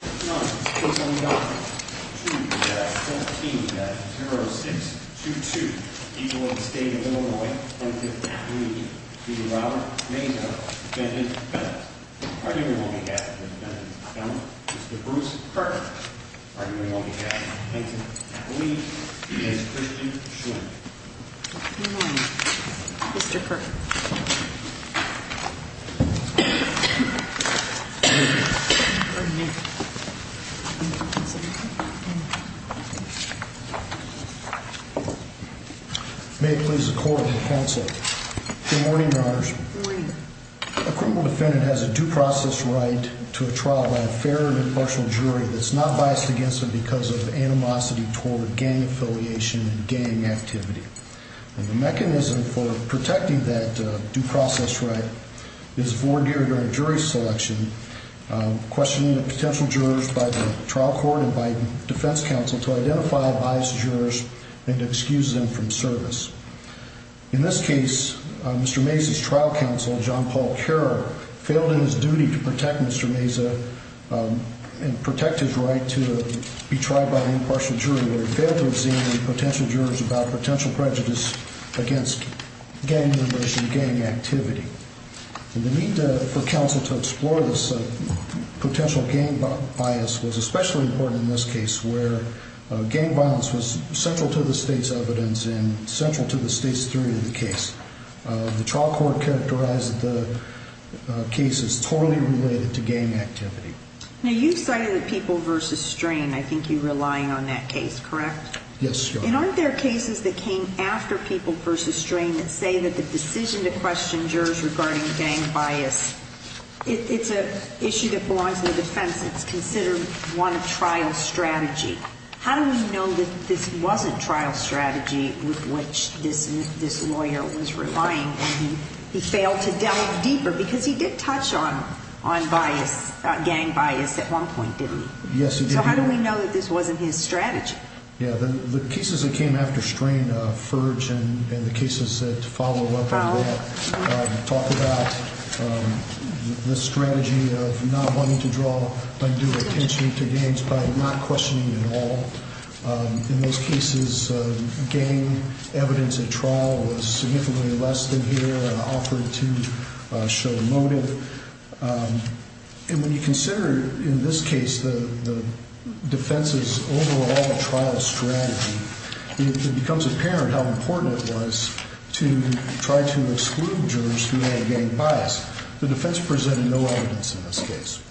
9, 6-0-0, 2-0-0, 13-0-0, 6-2-2, people of the state of Illinois, 1-5-3, v. Robert Meza, defendant, defendant. Argument will be cast against the defendant, defendant, Mr. Bruce Kirk. Argument will be cast against him. I believe he is Christian Schwinn. Good morning, Mr. Kirk. May it please the court and the counsel. Good morning, Your Honors. Good morning. A criminal defendant has a due process right to a trial by a fair and impartial jury that's not biased against them because of animosity toward gang affiliation and gang activity. And the mechanism for protecting that due process right is vordure during jury selection, questioning of potential jurors by the trial court and by defense counsel to identify biased jurors and to excuse them from service. In this case, Mr. Meza's trial counsel, John Paul Kerr, failed in his duty to protect Mr. Meza and protect his right to be tried by an impartial jury where he failed to examine potential jurors about potential prejudice against gang affiliation and gang activity. And the need for counsel to explore this potential gang bias was especially important in this case where gang violence was central to the state's evidence and central to the state's theory of the case. The trial court characterized the case as totally related to gang activity. Now, you cited the people versus strain. I think you're relying on that case, correct? Yes, Your Honor. And aren't there cases that came after people versus strain that say that the decision to question jurors regarding gang bias, it's an issue that belongs in the defense. It's considered one of trial strategy. How do we know that this wasn't trial strategy with which this lawyer was relying and he failed to delve deeper because he did touch on bias, gang bias at one point, didn't he? Yes, he did. So how do we know that this wasn't his strategy? Yeah, the cases that came after strain, Furge and the cases that follow up on that talk about the strategy of not wanting to draw undue attention to gangs by not questioning at all. In those cases, gang evidence at trial was significantly less than here and offered to show motive. And when you consider in this case the defense's overall trial strategy, it becomes apparent how important it was to try to exclude jurors who had gang bias. The defense presented no evidence in this case.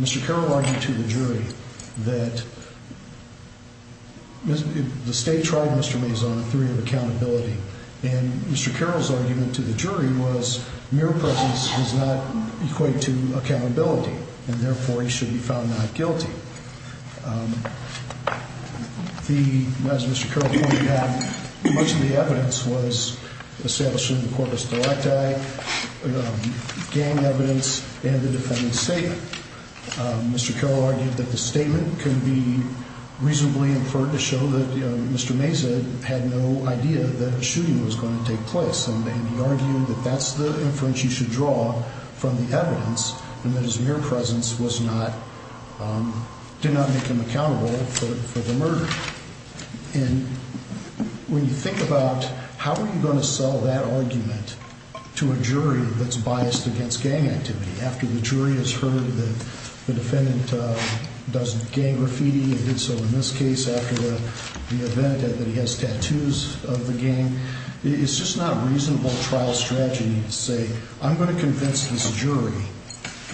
Mr. Carroll argued to the jury that the state tried Mr. Maison a theory of accountability. And Mr. Carroll's argument to the jury was mere presence does not equate to accountability, and therefore he should be found not guilty. As Mr. Carroll pointed out, much of the evidence was established in the corpus directi, gang evidence, and the defendant's statement. Mr. Carroll argued that the statement could be reasonably inferred to show that Mr. Maison had no idea that a shooting was going to take place. And he argued that that's the inference you should draw from the evidence and that his mere presence did not make him accountable for the murder. And when you think about how are you going to sell that argument to a jury that's biased against gang activity after the jury has heard that the defendant does gang graffiti, and did so in this case after the event that he has tattoos of the gang, it's just not reasonable trial strategy to say, I'm going to convince this jury.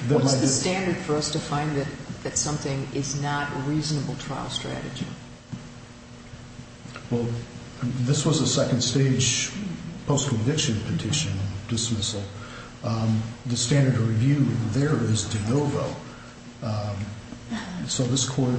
What's the standard for us to find that something is not a reasonable trial strategy? Well, this was a second stage post-conviction petition dismissal. The standard to review there is de novo. So this Court,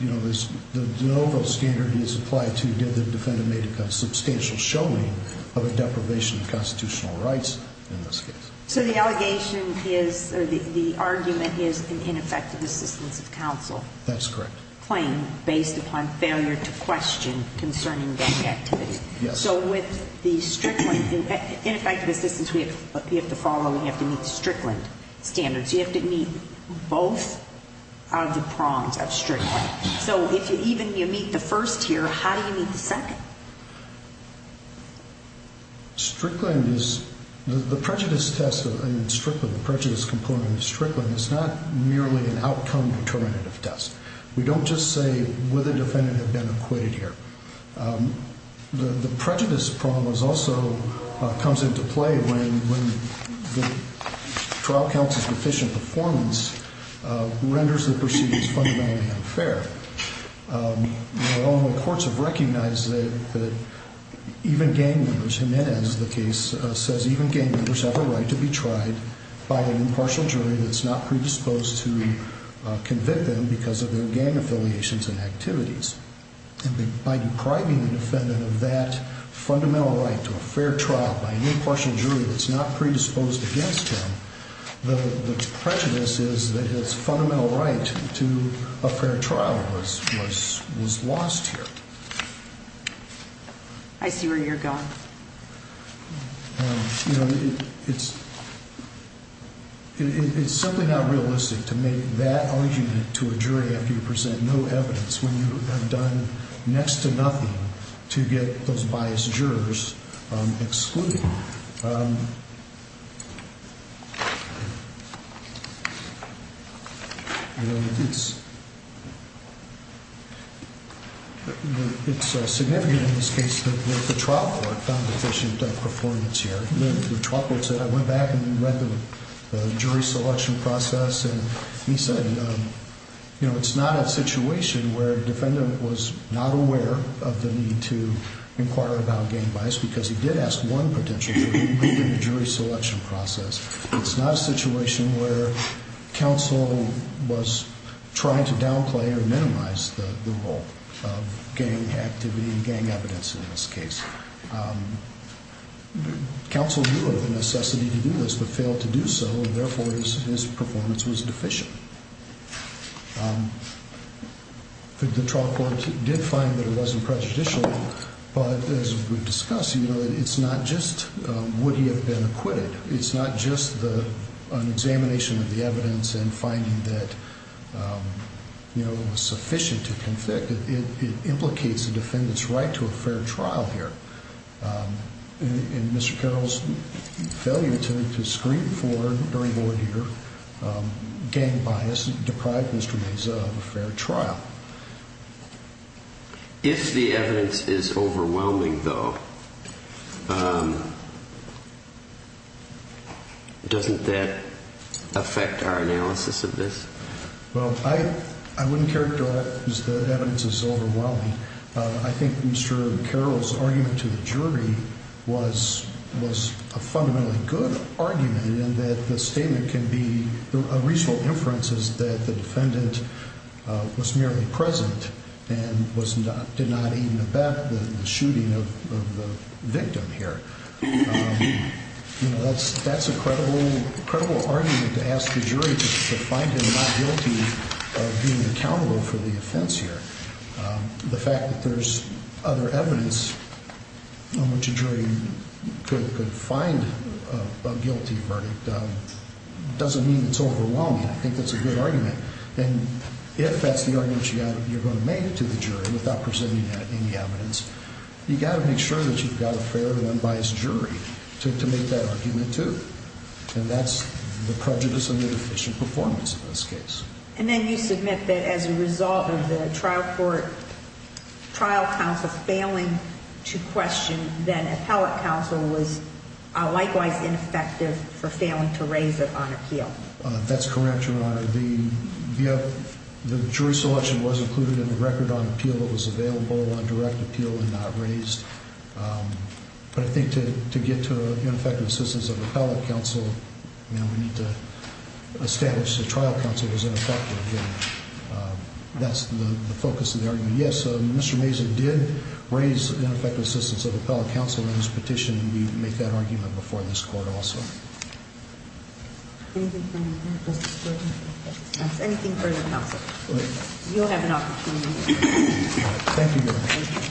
you know, the de novo standard is applied to give the defendant made a substantial showing of a deprivation of constitutional rights in this case. So the allegation is, or the argument is an ineffective assistance of counsel? That's correct. Claim based upon failure to question concerning gang activity. Yes. So with the Strickland, ineffective assistance, you have to follow, you have to meet Strickland standards. You have to meet both of the prongs of Strickland. So if even you meet the first here, how do you meet the second? Strickland is, the prejudice test, I mean, Strickland, the prejudice component of Strickland is not merely an outcome determinative test. We don't just say, would the defendant have been acquitted here? The prejudice problem also comes into play when the trial counsel's deficient performance renders the proceedings fundamentally unfair. The courts have recognized that even gang members, Jimenez, the case, says even gang members have a right to be tried by an impartial jury that's not predisposed to convict them because of their gang affiliations and activities. And by depriving the defendant of that fundamental right to a fair trial by an impartial jury that's not predisposed against them, the prejudice is that his fundamental right to a fair trial was lost here. I see where you're going. You know, it's simply not realistic to make that argument to a jury after you present no evidence when you have done next to nothing to get those biased jurors excluded. You know, it's significant in this case that the trial court found deficient performance here. I went back and read the jury selection process and he said, you know, it's not a situation where a defendant was not aware of the need to inquire about gang bias because he did ask one potential jury in the jury selection process. It's not a situation where counsel was trying to downplay or minimize the role of gang activity and gang evidence in this case. Counsel knew of the necessity to do this, but failed to do so, and therefore his performance was deficient. The trial court did find that it wasn't prejudicial, but as we've discussed, you know, it's not just would he have been acquitted. It's not just an examination of the evidence and finding that, you know, it was sufficient to convict. It implicates the defendant's right to a fair trial here. And Mr. Carroll's failure to screen for, during ordeal, gang bias deprived Mr. Meza of a fair trial. If the evidence is overwhelming, though, doesn't that affect our analysis of this? Well, I wouldn't characterize the evidence as overwhelming. I think Mr. Carroll's argument to the jury was a fundamentally good argument in that the statement can be, a reasonable inference is that the defendant was merely present and did not even abet the shooting of the victim here. You know, that's a credible argument to ask the jury to find him not guilty of being accountable for the offense here. The fact that there's other evidence on which a jury could find a guilty verdict doesn't mean it's overwhelming. I think that's a good argument. And if that's the argument you're going to make to the jury without presenting any evidence, you've got to make sure that you've got a fair and unbiased jury to make that argument too. And that's the prejudice of inefficient performance in this case. And then you submit that as a result of the trial court, trial counsel failing to question, then appellate counsel was likewise ineffective for failing to raise it on appeal. That's correct, Your Honor. The jury selection was included in the record on appeal that was available on direct appeal and not raised. But I think to get to ineffective assistance of appellate counsel, we need to establish the trial counsel was ineffective. That's the focus of the argument. Yes, Mr. Mazur did raise ineffective assistance of appellate counsel in his petition. We make that argument before this court also. Anything further? Anything further, counsel? You'll have an opportunity. Thank you, Your Honor. Thank you, Your Honor.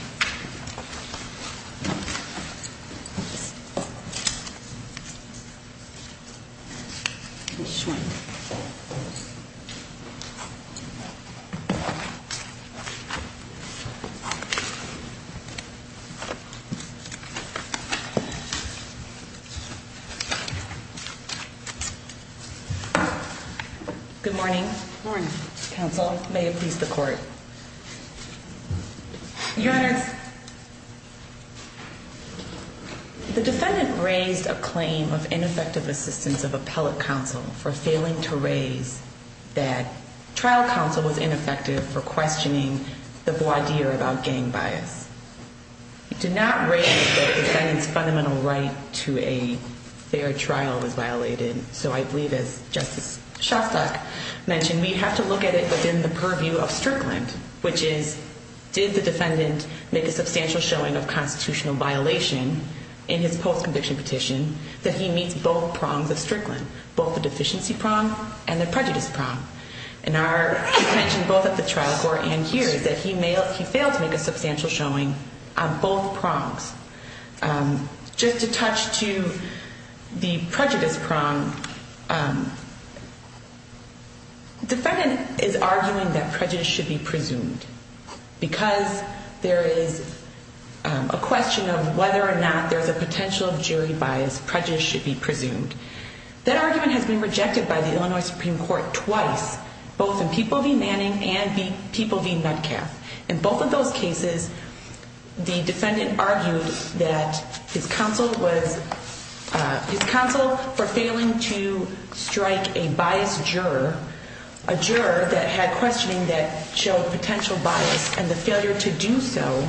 Good morning. Morning. Counsel, may it please the court. Your Honor, the defendant raised a claim of ineffective assistance of appellate counsel for failing to raise that trial counsel was ineffective for questioning the voir dire about gang bias. It did not raise the defendant's fundamental right to a fair trial was violated. So I believe, as Justice Shostak mentioned, we have to look at it within the purview of Strickland, which is, did the defendant make a substantial showing of constitutional violation in his post-conviction petition that he meets both prongs of Strickland, both the deficiency prong and the prejudice prong? And our attention both at the trial court and here is that he failed to make a substantial showing on both prongs. Just to touch to the prejudice prong, defendant is arguing that prejudice should be presumed because there is a question of whether or not there's a potential of jury bias, prejudice should be presumed. That argument has been rejected by the Illinois Supreme Court twice, both in People v. Manning and People v. Metcalf. In both of those cases, the defendant argued that his counsel for failing to strike a bias juror, a juror that had questioning that showed potential bias and the failure to do so,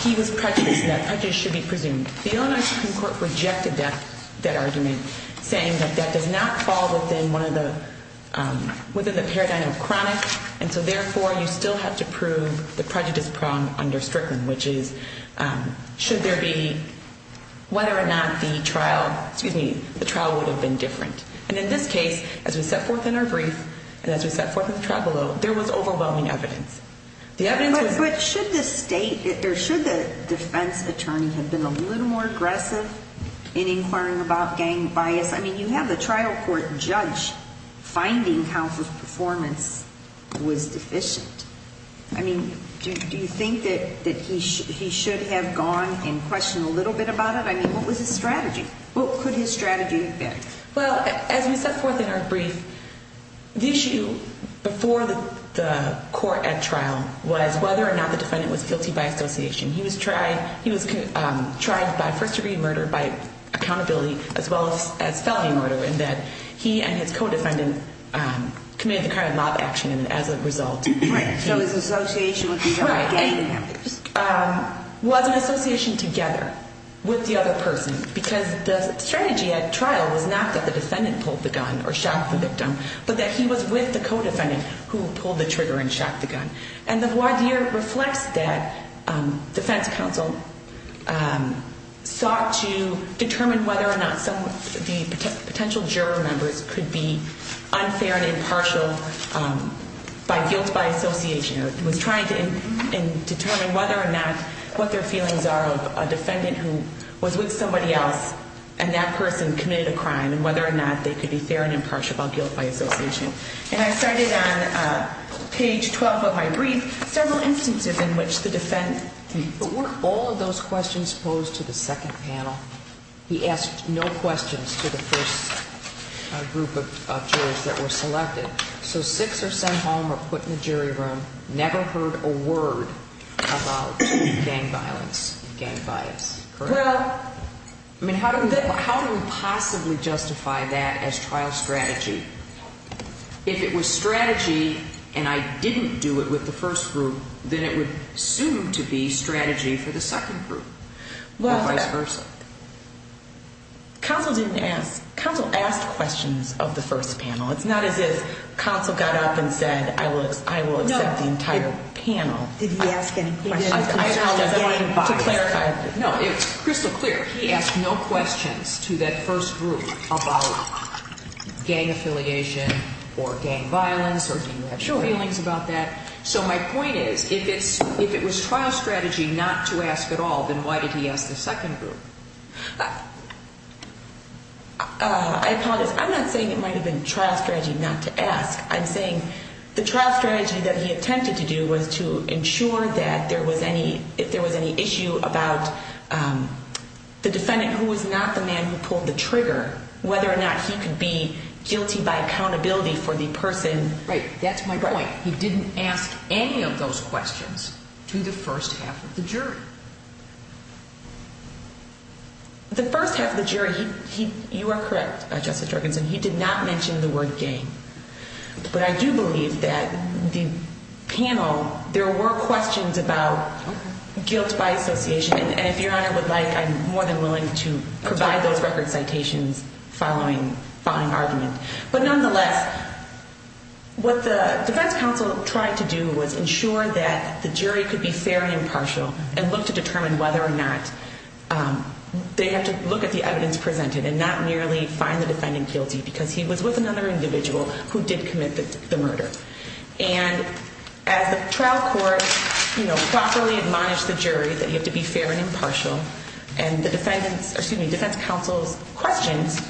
he was prejudiced and that prejudice should be presumed. The Illinois Supreme Court rejected that argument, saying that that does not fall within one of the, within the paradigm of chronic and so therefore you still have to prove the prejudice prong under Strickland, which is, should there be, whether or not the trial, excuse me, the trial would have been different. And in this case, as we set forth in our brief, and as we set forth in the trial below, there was overwhelming evidence. But should the state, or should the defense attorney have been a little more aggressive in inquiring about gang bias? I mean, you have a trial court judge finding how his performance was deficient. I mean, do you think that he should have gone and questioned a little bit about it? I mean, what was his strategy? What could his strategy have been? Well, as we set forth in our brief, the issue before the court at trial was whether or not the defendant was guilty by association. He was tried, he was charged by first degree murder, by accountability, as well as felony murder in that he and his co-defendant committed the crime of mob action and as a result. Right, so his association with the other gang members. Was an association together with the other person because the strategy at trial was not that the defendant pulled the gun or shot the victim, but that he was with the co-defendant who pulled the trigger and shot the gun. And the voir dire reflects that defense counsel sought to determine whether or not some of the potential juror members could be unfair and impartial by guilt, by association. Was trying to determine whether or not, what their feelings are of a defendant who was with somebody else and that person committed a crime and whether or not they could be fair and impartial about guilt by association. And I started on page 12 of my brief, several instances in which the defendant. But weren't all of those questions posed to the second panel? He asked no questions to the first group of jurors that were selected. So six are sent home or put in the jury room. Never heard a word about gang violence, gang bias. Well, I mean, how do we possibly justify that as trial strategy? If it was strategy and I didn't do it with the first group, then it would assume to be strategy for the second group. Counsel didn't ask, counsel asked questions of the first panel. It's not as if counsel got up and said, I will, I will accept the entire panel. Did he ask any questions? No, it's crystal clear. He asked no questions to that first group about gang affiliation or gang violence or feelings about that. So my point is if it's if it was trial strategy not to ask at all, then why did he ask the second group? I apologize. I'm not saying it might have been trial strategy not to ask. I'm saying the trial strategy that he attempted to do was to ensure that there was any if there was any issue about the defendant who was not the man who pulled the trigger, whether or not he could be guilty by accountability for the person. Right. That's my point. He didn't ask any of those questions to the first half of the jury. The first half of the jury, you are correct, Justice Jorgensen, he did not mention the word gang. But I do believe that the panel, there were questions about guilt by association. And if Your Honor would like, I'm more than willing to provide those record citations following argument. But nonetheless, what the defense counsel tried to do was ensure that the jury could be fair and impartial and look to determine whether or not they have to look at the evidence presented and not merely find the defendant guilty because he was with another individual who did commit the murder. And as the trial court, you know, properly admonished the jury that you have to be fair and impartial. And the defendants, excuse me, defense counsel's questions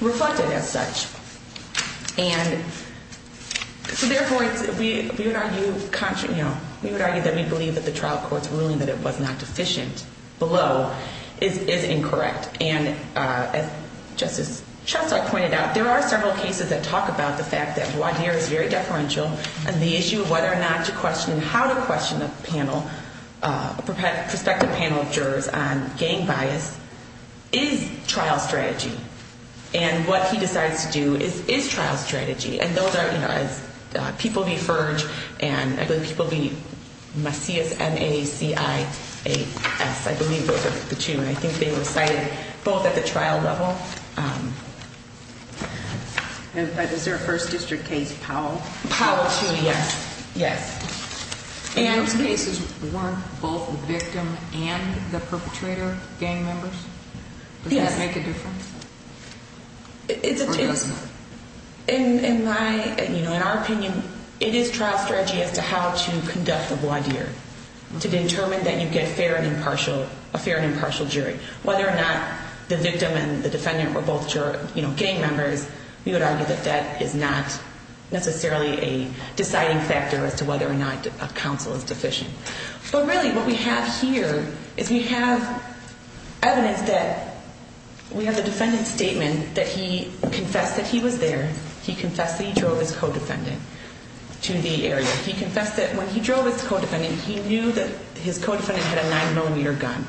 reflected as such. And so therefore, we would argue that we believe that the trial court's ruling that it was not deficient below is incorrect. And as Justice Chesler pointed out, there are several cases that talk about the fact that voir dire is very deferential and the issue of whether or not to question how to question a panel, a prospective panel of jurors on gang bias is trial strategy. And what he decides to do is trial strategy. And those are, you know, as people be Ferg and I believe people be Macias, M-A-C-I-A-S. I believe those are the two. And I think they were cited both at the trial level. Is there a first district case Powell? Powell too, yes. Yes. And those cases weren't both the victim and the perpetrator gang members? Yes. Does that make a difference? In my, you know, in our opinion, it is trial strategy as to how to conduct the voir dire to determine that you get a fair and impartial jury. Whether or not the victim and the defendant were both, you know, gang members, we would argue that that is not necessarily a deciding factor as to whether or not a counsel is deficient. But really what we have here is we have evidence that we have the defendant's statement that he confessed that he was there. He confessed that he drove his co-defendant to the area. He confessed that when he drove his co-defendant, he knew that his co-defendant had a 9mm gun.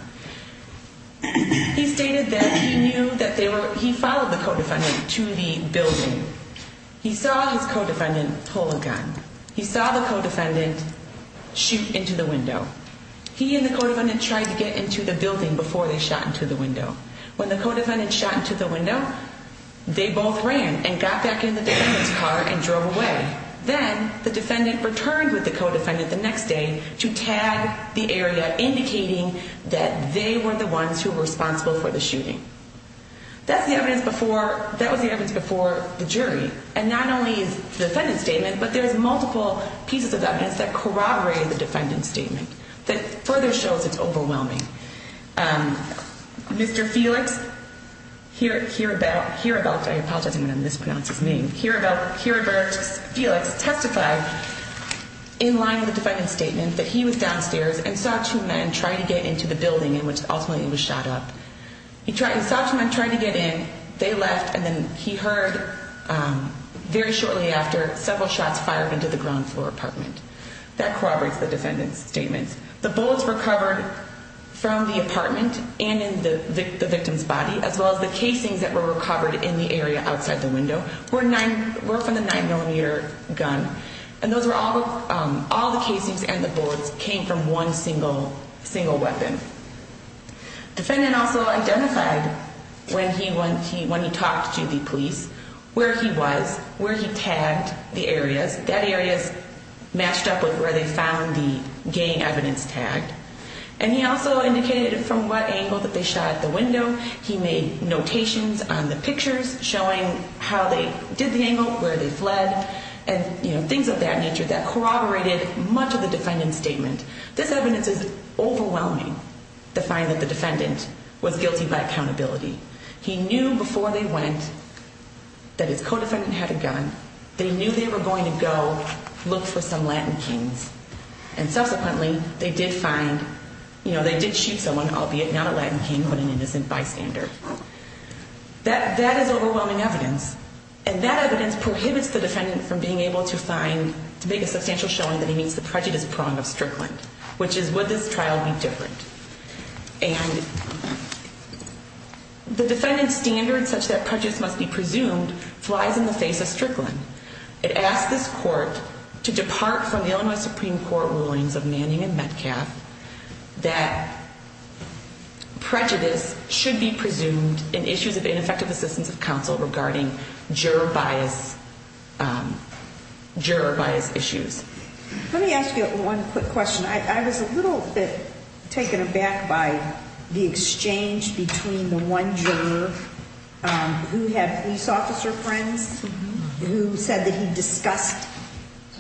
He stated that he knew that they were, he followed the co-defendant to the building. He saw his co-defendant pull a gun. He saw the co-defendant shoot into the window. He and the co-defendant tried to get into the building before they shot into the window. When the co-defendant shot into the window, they both ran and got back in the defendant's car and drove away. Then the defendant returned with the co-defendant the next day to tag the area indicating that they were the ones who were responsible for the shooting. That's the evidence before, that was the evidence before the jury. And not only the defendant's statement, but there's multiple pieces of evidence that corroborate the defendant's statement that further shows it's overwhelming. Mr. Felix, here about, here about, I apologize, I'm going to mispronounce his name. Here about, here about Felix testified in line with the defendant's statement that he was downstairs and saw two men trying to get into the building in which ultimately he was shot up. He saw two men trying to get in, they left, and then he heard very shortly after several shots fired into the ground floor apartment. That corroborates the defendant's statement. The bullets recovered from the apartment and in the victim's body, as well as the casings that were recovered in the area outside the window, were from the 9mm gun. And those were all, all the casings and the bullets came from one single weapon. Defendant also identified when he, when he, when he talked to the police where he was, where he tagged the areas. That area is matched up with where they found the gang evidence tag. And he also indicated from what angle that they shot at the window. He made notations on the pictures showing how they did the angle, where they fled, and, you know, things of that nature that corroborated much of the defendant's statement. This evidence is overwhelming to find that the defendant was guilty by accountability. He knew before they went that his co-defendant had a gun. They knew they were going to go look for some Latin kings. And subsequently, they did find, you know, they did shoot someone, albeit not a Latin king, but an innocent bystander. That, that is overwhelming evidence. And that evidence prohibits the defendant from being able to find, to make a substantial showing that he meets the prejudice prong of Strickland. Which is, would this trial be different? And the defendant's standard such that prejudice must be presumed flies in the face of Strickland. It asks this court to depart from the Illinois Supreme Court rulings of Manning and Metcalf that prejudice should be presumed in issues of ineffective assistance of counsel regarding juror bias, juror bias issues. Let me ask you one quick question. I was a little bit taken aback by the exchange between the one juror who had police officer friends who said that he discussed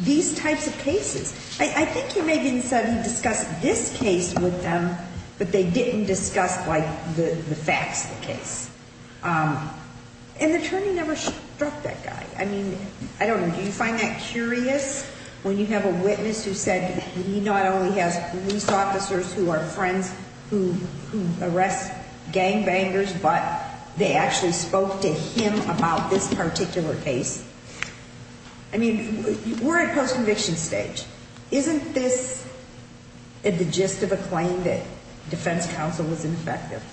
these types of cases. I think he maybe said he discussed this case with them, but they didn't discuss, like, the facts of the case. And the attorney never struck that guy. I mean, I don't know, do you find that curious when you have a witness who said he not only has police officers who are friends who arrest gang bangers, but they actually spoke to him about this particular case? I mean, we're at post-conviction stage. Isn't this the gist of a claim that defense counsel was ineffective?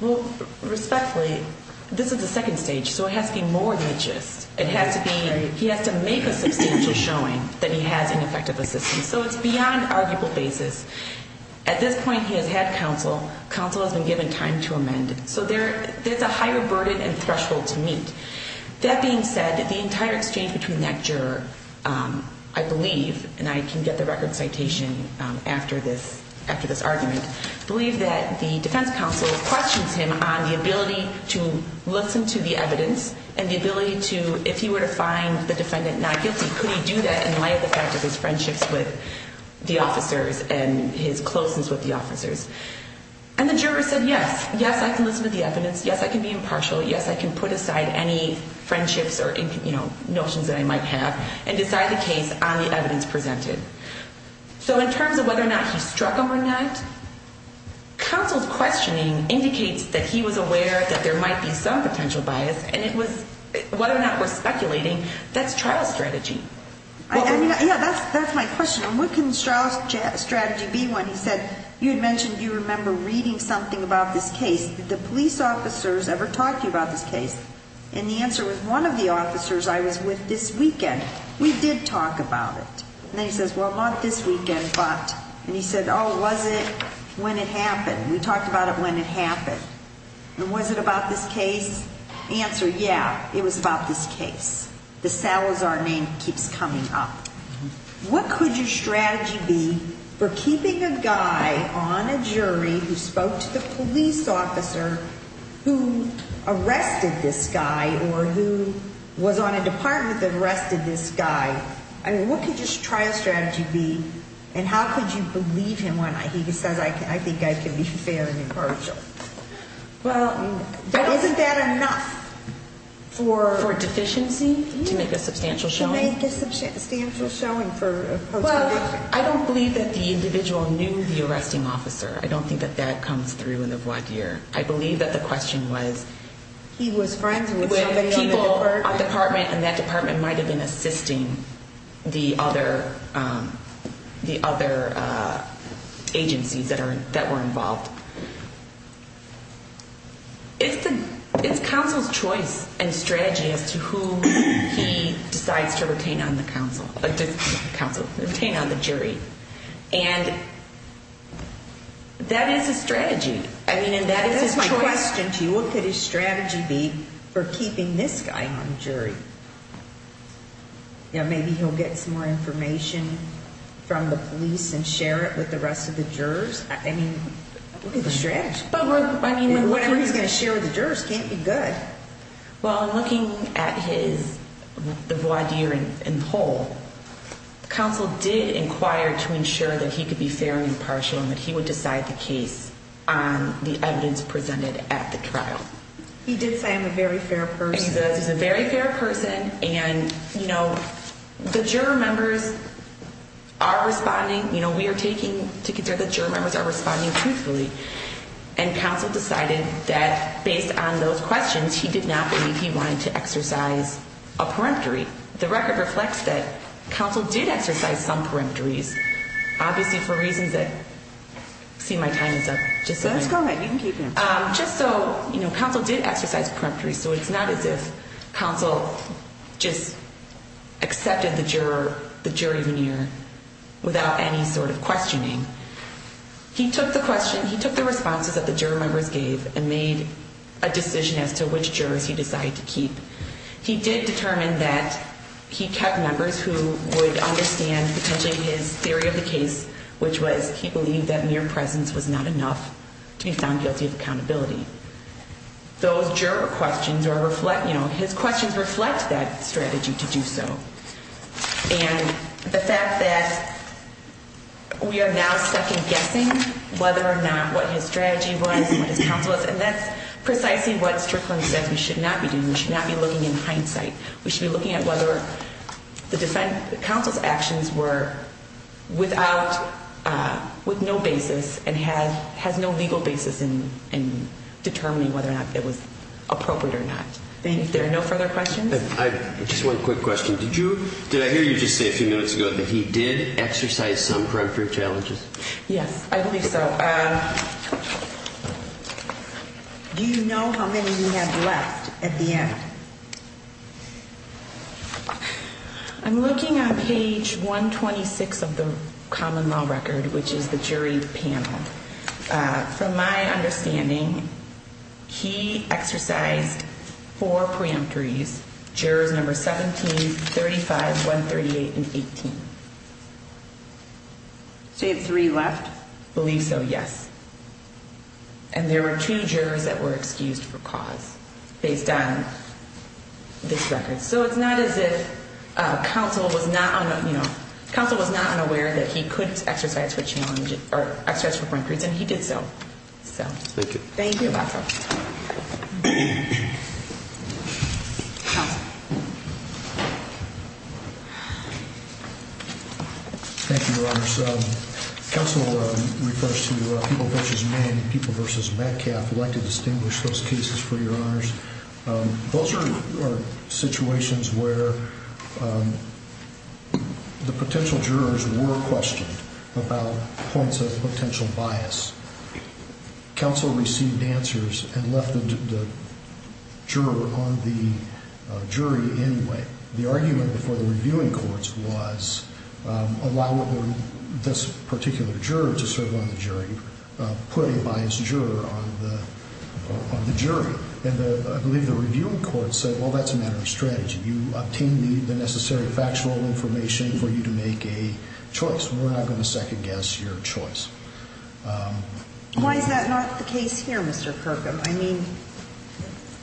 Well, respectfully, this is the second stage, so it has to be more than a gist. It has to be, he has to make a substantial showing that he has ineffective assistance. So it's beyond arguable basis. At this point, he has had counsel. Counsel has been given time to amend. So there's a higher burden and threshold to meet. That being said, the entire exchange between that juror, I believe, and I can get the record citation after this argument, believe that the defense counsel questions him on the ability to listen to the evidence and the ability to, if he were to find the defendant not guilty, could he do that in light of the fact of his friendships with the officers and his closeness with the officers? And the juror said, yes. Yes, I can listen to the evidence. Yes, I can be impartial. Yes, I can put aside any friendships or notions that I might have and decide the case on the evidence presented. So in terms of whether or not he struck him or not, counsel's questioning indicates that he was aware that there might be some potential bias, and it was, whether or not we're speculating, that's trial strategy. Yeah, that's my question. And what can trial strategy be when he said, you had mentioned you remember reading something about this case. Did the police officers ever talk to you about this case? And the answer was, one of the officers I was with this weekend, we did talk about it. And then he says, well, not this weekend, but. And he said, oh, was it when it happened? We talked about it when it happened. And was it about this case? The answer, yeah, it was about this case. The Salazar name keeps coming up. What could your strategy be for keeping a guy on a jury who spoke to the police officer who arrested this guy or who was on a department that arrested this guy? I mean, what could your trial strategy be? And how could you believe him when he says, I think I can be fair and impartial? Well, isn't that enough? For deficiency? To make a substantial showing? To make a substantial showing for a post-conviction. Well, I don't believe that the individual knew the arresting officer. I don't think that that comes through in the voir dire. I believe that the question was. He was friends with somebody on the department. With people on the department and that department might have been assisting the other agencies that were involved. It's counsel's choice and strategy as to who he decides to retain on the jury. And that is a strategy. That is my question to you. What could his strategy be for keeping this guy on the jury? Maybe he'll get some more information from the police and share it with the rest of the jurors. I mean, look at the strategy. Whatever he's going to share with the jurors can't be good. Well, looking at his voir dire in whole, counsel did inquire to ensure that he could be fair and impartial and that he would decide the case on the evidence presented at the trial. He did say I'm a very fair person. He does. He's a very fair person. And, you know, the juror members are responding. You know, we are taking to consider the juror members are responding truthfully. And counsel decided that based on those questions, he did not believe he wanted to exercise a peremptory. The record reflects that counsel did exercise some peremptories. Obviously, for reasons that see my time is up. Just go ahead. You can keep going. Just so you know, counsel did exercise peremptory. So it's not as if counsel just accepted the juror, the jury veneer without any sort of questioning. He took the question. He took the responses that the juror members gave and made a decision as to which jurors he decided to keep. He did determine that he kept members who would understand potentially his theory of the case, which was he believed that mere presence was not enough to be found guilty of accountability. Those juror questions are reflect, you know, his questions reflect that strategy to do so. And the fact that we are now second guessing whether or not what his strategy was, what his counsel was, and that's precisely what Strickland says we should not be doing. We should not be looking in hindsight. We should be looking at whether the counsel's actions were without, with no basis, and has no legal basis in determining whether or not it was appropriate or not. Thank you. If there are no further questions. Just one quick question. Did I hear you just say a few minutes ago that he did exercise some peremptory challenges? Yes, I believe so. Do you know how many we have left at the end? I'm looking on page 126 of the common law record, which is the jury panel. From my understanding, he exercised four peremptories, jurors number 17, 35, 138, and 18. So you have three left? I believe so, yes. And there were two jurors that were excused for cause based on this record. So it's not as if counsel was not unaware that he could exercise four peremptories, and he did so. Thank you. Thank you, Your Honor. Counsel refers to People v. Mann and People v. Metcalf. I'd like to distinguish those cases for Your Honors. Those are situations where the potential jurors were questioned about points of potential bias. Counsel received answers and left the juror on the jury anyway. The argument before the reviewing courts was allow this particular juror to serve on the jury, put a biased juror on the jury. And I believe the reviewing court said, well, that's a matter of strategy. You obtained the necessary factual information for you to make a choice. We're not going to second guess your choice. Why is that not the case here, Mr. Kirkham? I mean,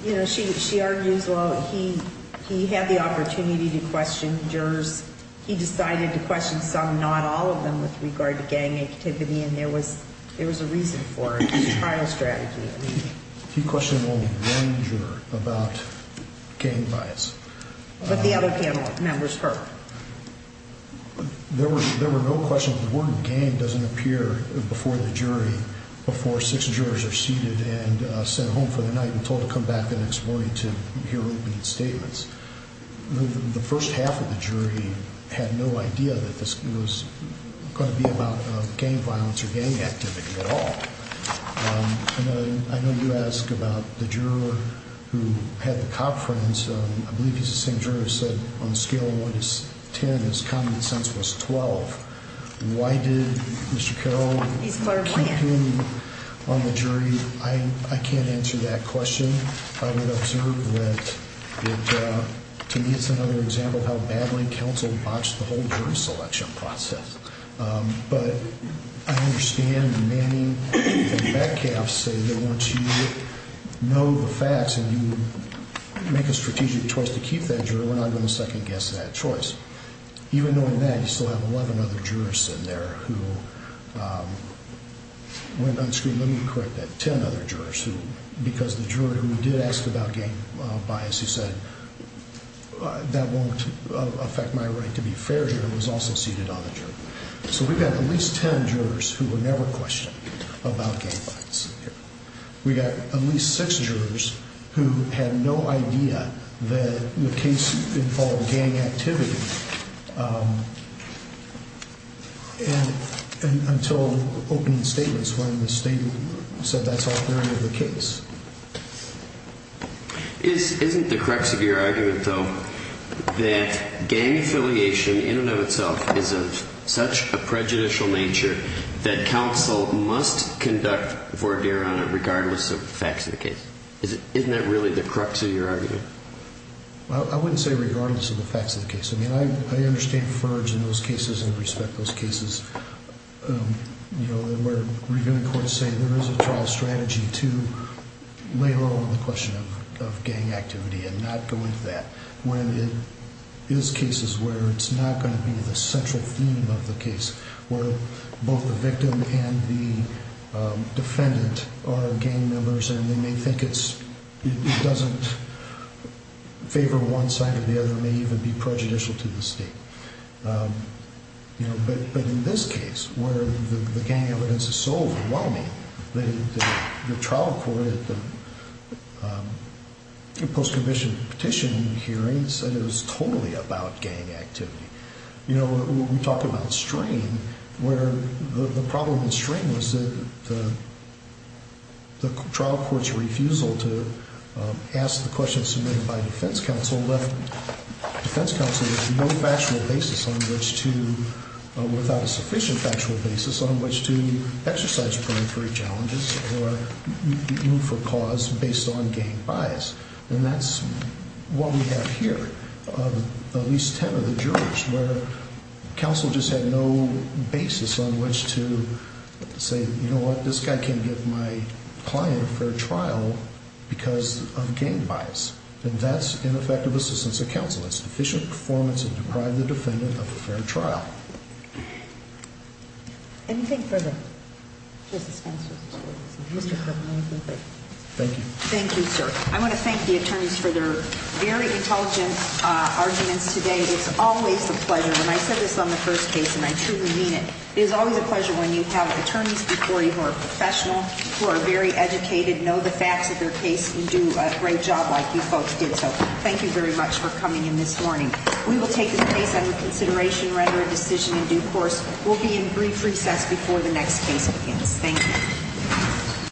you know, she argues, well, he had the opportunity to question jurors. He decided to question some, not all of them, with regard to gang activity, and there was a reason for it. It was a trial strategy. He questioned only one juror about gang bias. But the other panel members heard. There were no questions. The word gang doesn't appear before the jury before six jurors are seated and sent home for the night and told to come back the next morning to hear opening statements. The first half of the jury had no idea that this was going to be about gang violence or gang activity at all. I know you ask about the juror who had the cop friends. I believe he's the same juror who said on a scale of one to ten, his common sense was 12. Why did Mr. Carroll keep him on the jury? I can't answer that question. I would observe that it, to me, is another example of how badly counsel botched the whole jury selection process. But I understand Manning and Metcalf say that once you know the facts and you make a strategic choice to keep that juror, we're not going to second-guess that choice. Even knowing that, you still have 11 other jurors in there who went unscreened. Let me correct that. Because the juror who did ask about gang bias, who said, that won't affect my right to be a fair juror, was also seated on the jury. So we've got at least ten jurors who were never questioned about gang violence. We've got at least six jurors who had no idea that the case involved gang activity. And until opening statements, when the statement said that's all there is to the case. Isn't the crux of your argument, though, that gang affiliation in and of itself is of such a prejudicial nature that counsel must conduct voir dire on it regardless of the facts of the case? Isn't that really the crux of your argument? I wouldn't say regardless of the facts of the case. I mean, I understand FERJ in those cases and respect those cases. You know, where reviewing courts say there is a trial strategy to lay low on the question of gang activity and not go into that. When it is cases where it's not going to be the central theme of the case. Where both the victim and the defendant are gang members and they may think it doesn't favor one side or the other. It may even be prejudicial to the state. But in this case, where the gang evidence is so overwhelming, the trial court at the post-commissioned petition hearings said it was totally about gang activity. You know, when we talk about strain, where the problem with strain was that the trial court's refusal to ask the question submitted by defense counsel left defense counsel with no factual basis on which to, without a sufficient factual basis on which to exercise primary challenges or move for cause based on gang bias. And that's what we have here. At least ten of the jurors where counsel just had no basis on which to say, you know what, this guy can't give my client a fair trial because of gang bias. And that's ineffective assistance of counsel. It's deficient performance to deprive the defendant of a fair trial. Anything further? Thank you. Thank you. Thank you, sir. I want to thank the attorneys for their very intelligent arguments today. It's always a pleasure. When I said this on the first case, and I truly mean it, it is always a pleasure when you have attorneys before you who are professional, who are very educated, know the facts of their case, and do a great job like you folks did. So thank you very much for coming in this morning. We will take this case under consideration, render a decision in due course. We'll be in brief recess before the next case begins. Thank you.